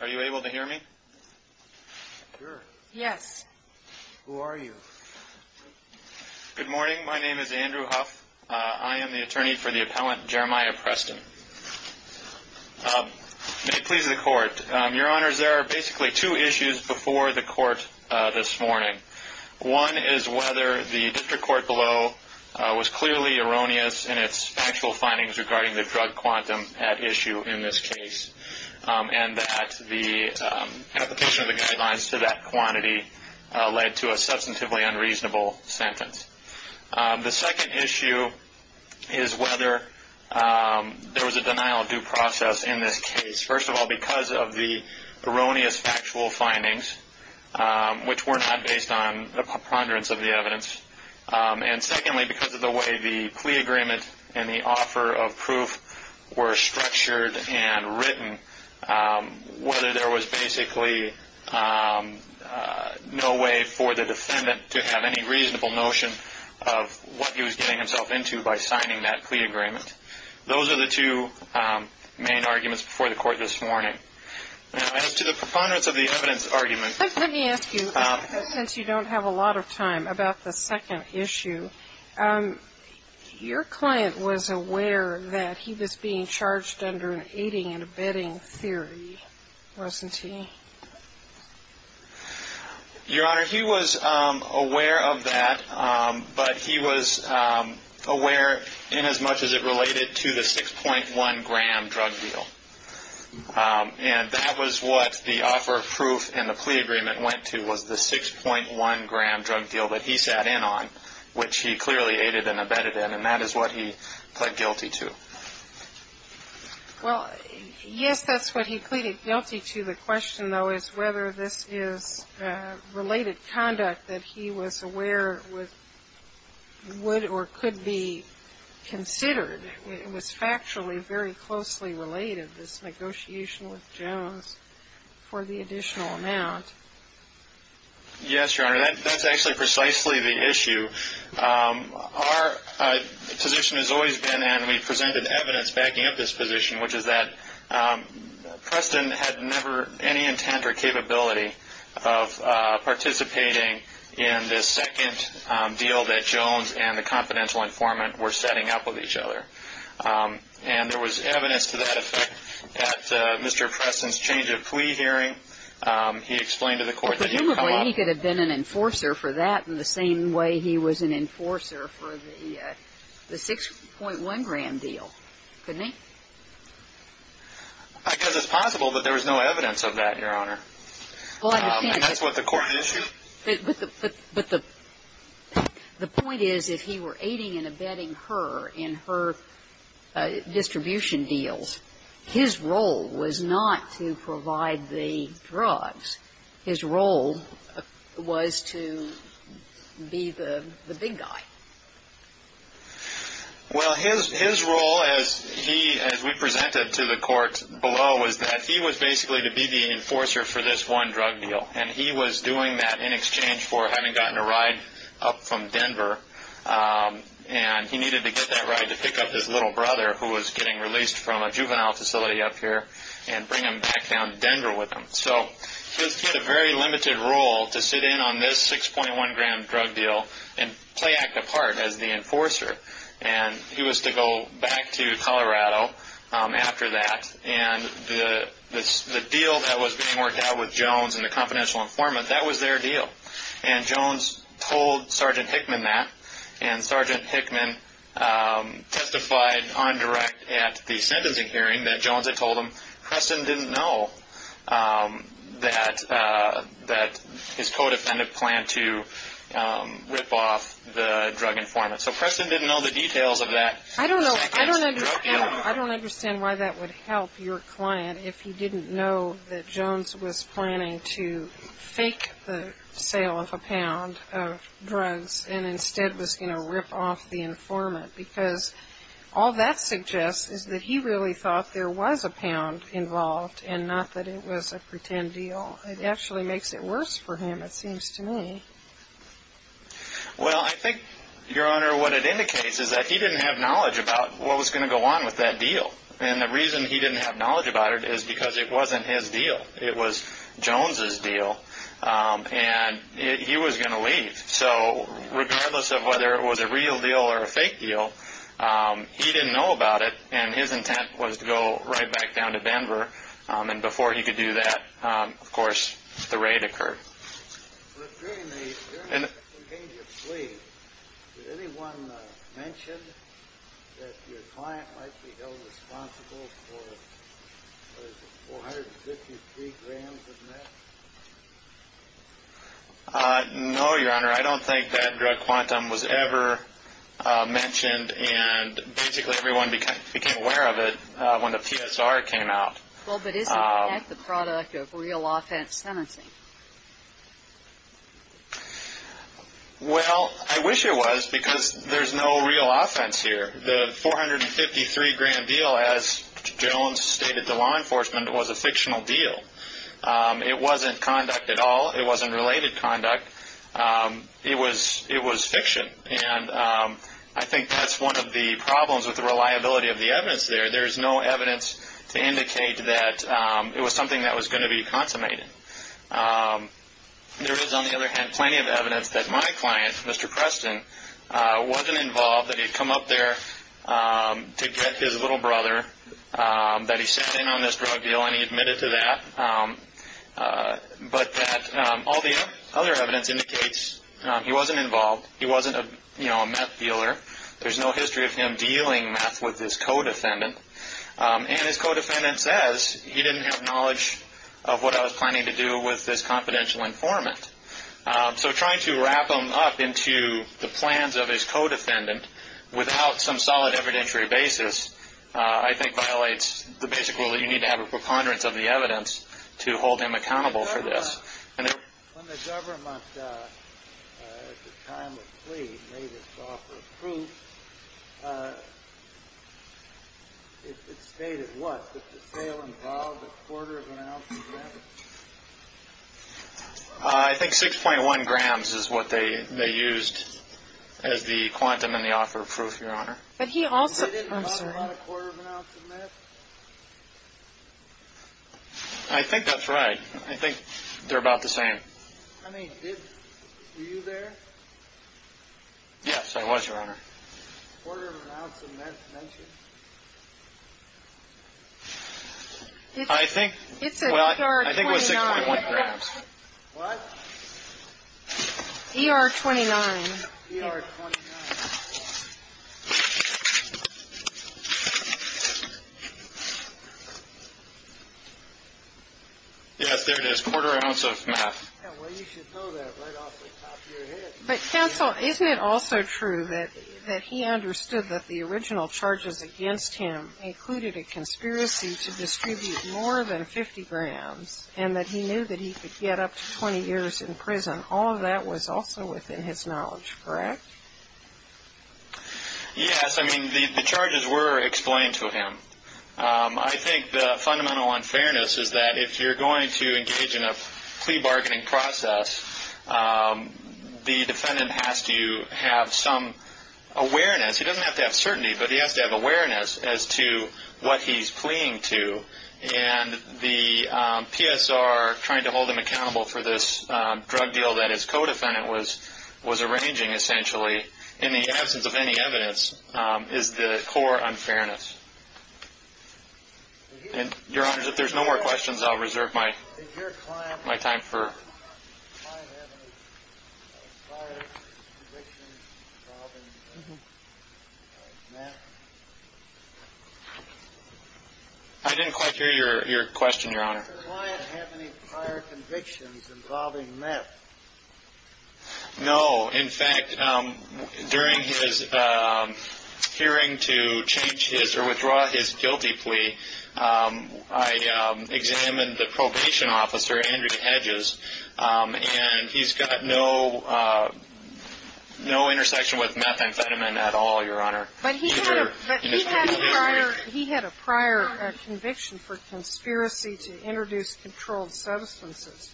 Are you able to hear me? Yes. Who are you? Good morning my name is Andrew Huff. I am the attorney for the appellant Jeremiah Preston. May it please the court. Your honors there are basically two issues before the court this morning. One is whether the district court below was clearly erroneous in its actual findings regarding the drug quantum at issue in this case and that the application of the guidelines to that quantity led to a substantively unreasonable sentence. The second issue is whether there was a denial of due process in this case. First of all because of the erroneous factual findings which were not based on the preponderance of the evidence and secondly because of the way the plea agreement and the offer of proof were structured and written whether there was basically no way for the defendant to have any reasonable notion of what he was getting himself into by signing that plea agreement. Those are the two main arguments before the court this morning. As to the preponderance of the evidence argument. Let me ask you since you don't have a lot of time about the second issue. Your client was aware that he was being charged under an aiding and abetting theory wasn't he? Your honor he was aware of that but he was aware in as much as it related to the 6.1 gram drug deal and that was what the offer of proof and the plea agreement went to was the 6.1 gram drug deal that he sat in on which he clearly aided and abetted in and that is what he pled guilty to. Well yes that's what he pleaded guilty to. The question though is whether this is related conduct that he was aware would or could be considered. It was factually very closely related this negotiation with Jones for the additional amount. Yes your honor that's actually precisely the issue. Our position has always been and we presented evidence backing up this position which is that Preston had never any intent or capability of participating in this second deal that Jones and the confidential informant were setting up with each other and there was evidence to that effect at Mr. Preston's change of plea hearing. He explained to the court that he could have been an enforcer for that in the same way he was an enforcer for the 6.1 gram deal couldn't he? I guess it's possible but there was no evidence of that your honor. That's what the court issued. But the point is if he were aiding and abetting her in her distribution deals his role was not to provide the drugs his role was to be the big guy. Well his role as he as we presented to the court below was that he was basically to be the enforcer for this one drug deal and he was doing that in exchange for having gotten a ride up from Denver and he needed to get that ride to pick up his little brother who was getting released from a juvenile facility up here and bring him back down to Denver with him. So he was given a very limited role to sit in on this 6.1 gram drug deal and play act apart as the enforcer and he was to go back to Colorado after that and the deal that was being worked out with Jones and the confidential informant that was their deal. And Jones told Sgt. Hickman that and Sgt. Hickman testified on direct at the sentencing hearing that Jones had told him Preston didn't know that his co-defendant planned to rip off the drug informant. So Preston didn't know the details of that. I don't understand why that would help your client if he didn't know that Jones was planning to fake the sale of a pound of drugs and instead was going to rip off the informant because all that suggests is that he really thought there was a pound involved and not that it was a pretend deal. It actually makes it worse for him it seems to me. Well I think Your Honor what it indicates is that he didn't have knowledge about what was going to go on with that deal and the reason he didn't have knowledge about it is because it wasn't his deal. It was Jones's deal and he was going to leave. So regardless of whether it was a real deal or a fake deal he didn't know about it and his intent was to go right back down to Denver and before he could do that of But during the plea, did anyone mention that your client might be held responsible for 453 grams of meth? No Your Honor I don't think that drug quantum was ever mentioned and basically everyone became aware of it when the PSR came out. Well but isn't that the product of real offense sentencing? Well I wish it was because there's no real offense here. The 453 grand deal as Jones stated to law enforcement was a fictional deal. It wasn't conduct at all. It wasn't related conduct. It was it was fiction and I think that's one of the problems with the reliability of the evidence there. There's no evidence to indicate that it was something that was going to be consummated. There is on the other hand plenty of evidence that my client Mr. Preston wasn't involved that he'd come up there to get his little brother that he sent in on this drug deal and he admitted to that but that all the other evidence indicates he wasn't involved. He wasn't a you know a meth dealer. There's no history of him dealing meth with his co-defendant and his co-defendant says he didn't have knowledge of what I was planning to do with this confidential informant. So trying to wrap them up into the plans of his co-defendant without some solid evidentiary basis I think violates the basic rule that you need to have a preponderance of the evidence to hold him accountable for I think 6.1 grams is what they they used as the quantum in the offer of proof your honor but he also I think that's right I think they're about the same yes I was your honor I think it's er 29 but counsel isn't it also true that that he understood that the original charges against him included a conspiracy to distribute more than 50 grams and that he knew that he could get up to 20 years in prison all of that was also within his knowledge correct yes I mean the charges were explained to him I think the fundamental unfairness is that if you're going to engage in a plea bargaining process the defendant has to have some awareness he doesn't have to have certainty but he has to have awareness as to what he's pleading to and the PSR trying to hold him accountable for this drug deal that his co-defendant was was arranging essentially in the absence of any evidence is the core unfairness and your honors if there's no more questions I'll reserve my my time for I didn't quite hear your question your honor prior convictions involving meth no in fact during his hearing to change his or withdraw his guilty plea I examined the probation officer Andrew hedges and he's got no no intersection with methamphetamine at all your honor he had a prior conviction for conspiracy to introduce controlled substances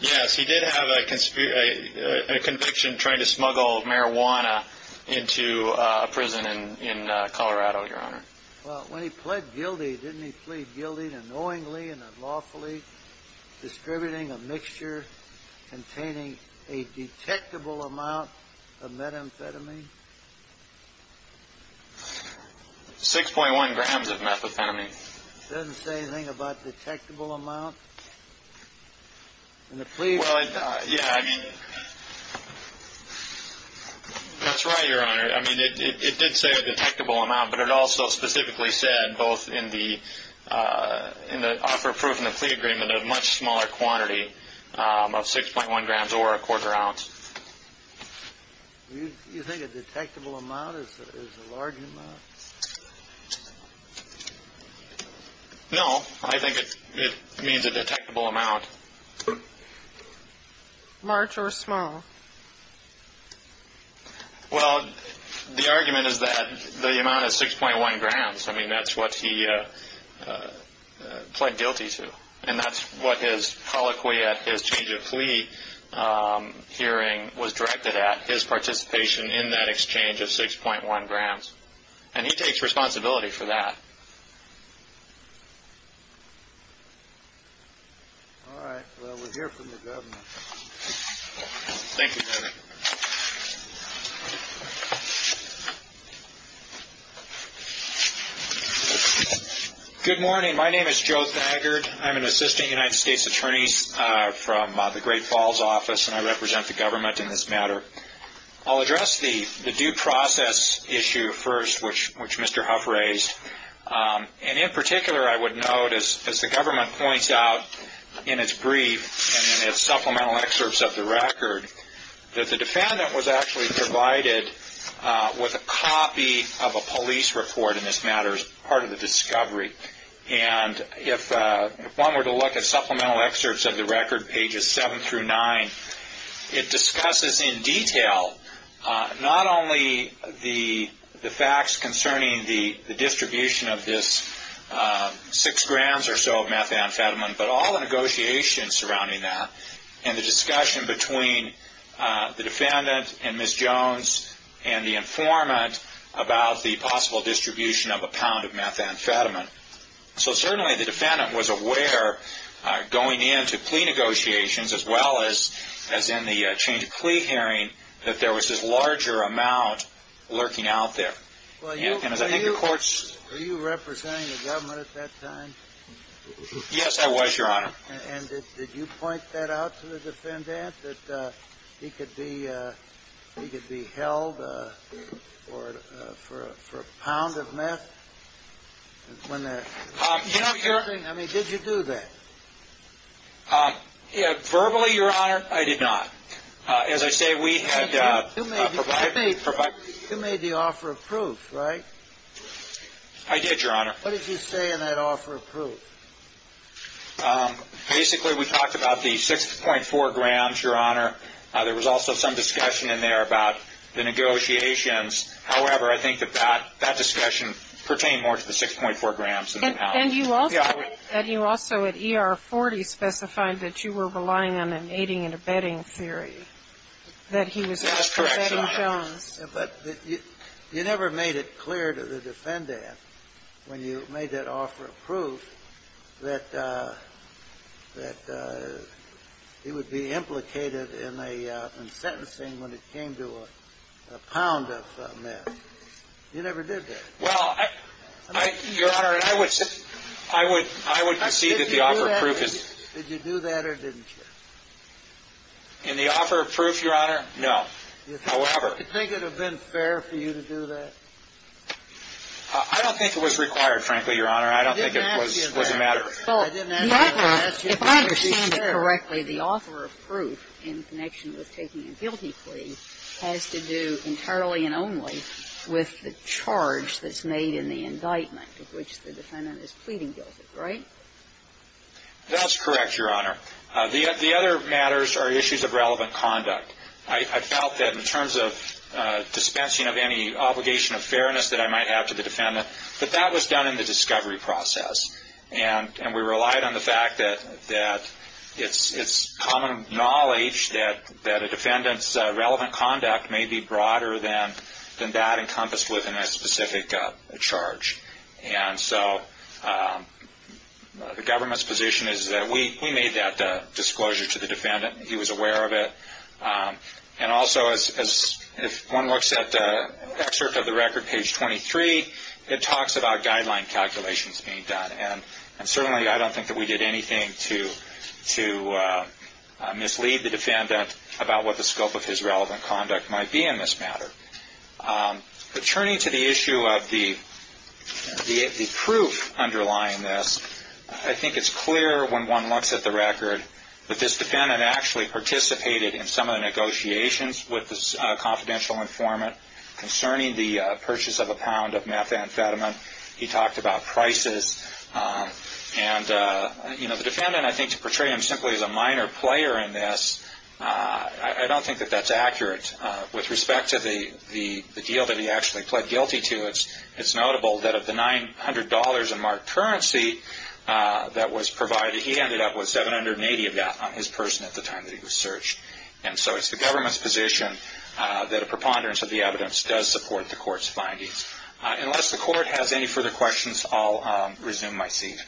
yes he did have a conspiracy conviction trying to smuggle marijuana into a prison in Colorado your honor well when he pled guilty didn't he plead guilty to knowingly and unlawfully distributing a mixture containing a detectable amount of methamphetamine 6.1 grams of methamphetamine doesn't say anything about detectable amount and the plea well yeah I mean that's right your honor I mean it did say a detectable amount but it also specifically said both in the in the offer proof in the plea agreement of much smaller quantity of 6.1 grams or a quarter ounce no I think it means a detectable amount March or small well the argument is that the amount of 6.1 grams I mean that's what he pled guilty to and that's what his colloquy at his change of plea hearing was directed at his participation in that exchange of 6.1 grams and he takes responsibility for that good morning my name is Joe Thagard I'm an assistant United States attorneys from the Great Falls office and I represent the government in this matter I'll address the the due process issue first which Mr. Huff raised and in particular I would notice as the government points out in its brief supplemental excerpts of the record that the defendant was actually provided with a copy of a police report in this matter as part of the discovery and if one were to look at supplemental excerpts of the record pages 7 through 9 it discusses in detail not only the the facts concerning the distribution of this six grams or so of methamphetamine but all the negotiations surrounding that and the discussion between the defendant and Ms. Jones and the informant about the possible distribution of a pound of methamphetamine so certainly the defendant was aware going into plea negotiations as well as as in the change of plea hearing that there was this larger amount lurking out there and as I think the courts are you representing the government at that time yes I was your honor and did you point that out to the defendant that he could be he could be held or for a pound of methamphetamine verbally your honor I did not as I say we had made the offer of proof right I did your honor what did you say in that offer of proof basically we talked about the 6.4 grams your honor there was also some discussion in there about the negotiations however I think that that that discussion pertain more to the 6.4 grams and you also at ER 40 specified that you were relying on an aiding and abetting theory that he was abetting Jones but you never made it clear to the defendant when you made that offer of proof that that it would be implicated in a sentencing when it came to a pound of meth you never did that well I your honor I would I would I would see that the offer of proof is did you do that or didn't you in the offer of proof your honor no however you think it would have been fair for you to do that I don't think it was required frankly your honor I don't think it was a matter of if I understand it correctly the offer of proof in connection with taking a guilty plea has to do entirely and only with the charge that's made in the indictment of which the defendant is pleading guilty right that's correct your honor the other matters are issues of relevant conduct I felt that in terms of dispensing of any obligation of fairness that I might have to the defendant but that was done in the discovery process and and we relied on the fact that that it's it's common knowledge that that a defendant's relevant conduct may be broader than than that encompassed within a specific charge and so the government's position is that we we made that disclosure to the defendant he was aware of it and also as if one looks at the excerpt of the record page 23 it talks about guideline calculations being done and and certainly I don't think that we did anything to to mislead the defense matter but turning to the issue of the the the proof underlying this I think it's clear when one looks at the record that this defendant actually participated in some of the negotiations with the confidential informant concerning the purchase of a pound of methamphetamine he talked about prices and you know the defendant I think to portray him simply as a minor player in this I don't think that that's accurate with respect to the the the deal that he actually pled guilty to it's it's notable that of the nine hundred dollars in marked currency that was provided he ended up with seven hundred and eighty of that on his person at the time that he was searched and so it's the government's position that a preponderance of the evidence does support the court's findings unless the court has any further questions I'll resume my seat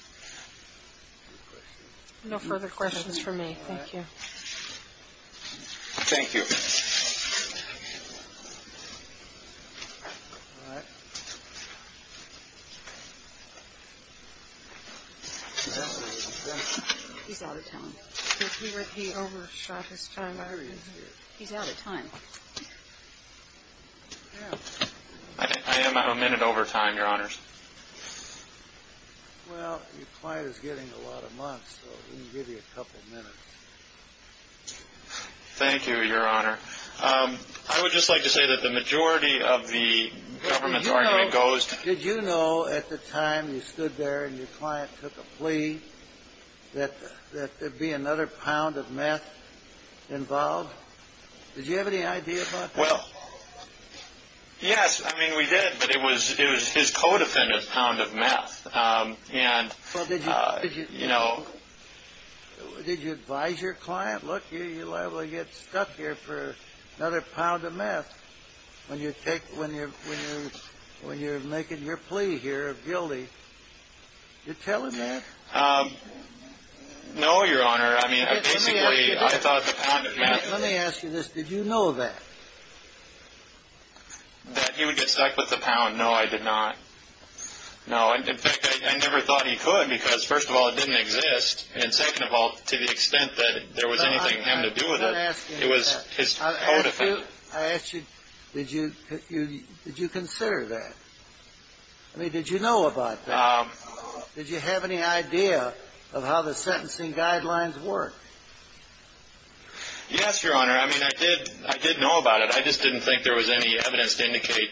no further questions for me thank you he's out of time he overshot his time he's out of time I am a minute over time your honors well your client is getting a lot of months so we can give you a couple minutes thank you your honor I would just like to say that the majority of the government's argument goes did you know at the time you stood there and your client took a plea that that there'd be another pound of meth involved did you have any idea about that yes I mean we did but it was it was his co-defendant's pound of meth and you know did you advise your client look you'll get stuck here for another pound of meth when you take when you're when you're when you're making your plea here of guilty did you tell him that no your honor I mean basically I thought the pound of meth let me ask you this did you know that that he would get stuck with the pound no I did not no in fact I never thought he could because first of all it didn't exist and second of all to the extent that there was anything him to do with it it was his co-defendant I ask you did you did you consider that I mean did you know about that did you have any idea of how the sentencing guidelines work yes your honor I mean I did I did know about it I just didn't think there was any evidence to indicate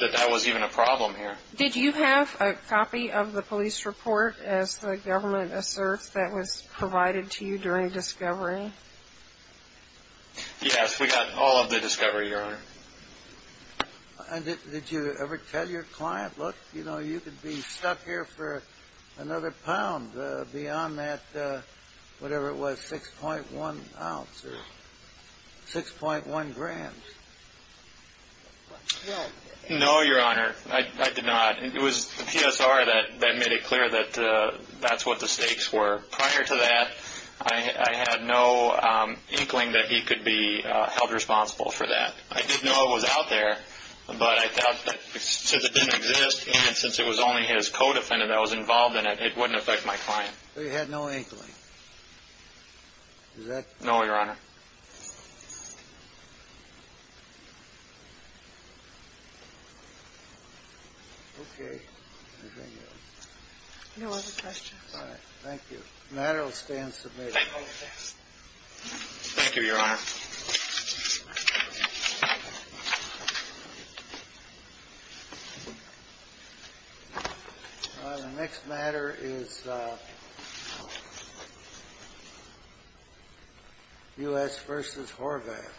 that that was even a problem here did you have a copy of the police report as the government asserts that was provided to you during discovery yes we got all of the discovery your honor did you ever tell your client look you know you could be stuck here for another pound beyond that whatever it was 6.1 ounces 6.1 grams no your honor I did not it was the PSR that made it clear that that's what the stakes were prior to that I had no inkling that he could be held responsible for that I didn't know it was out there but I thought that since it didn't exist and since it was only his co-defendant that was involved in it it wouldn't affect my client so you had no inkling is that no your honor okay no other questions all right thank you the matter will stay in submission thank you your honor the next matter is US versus Horvath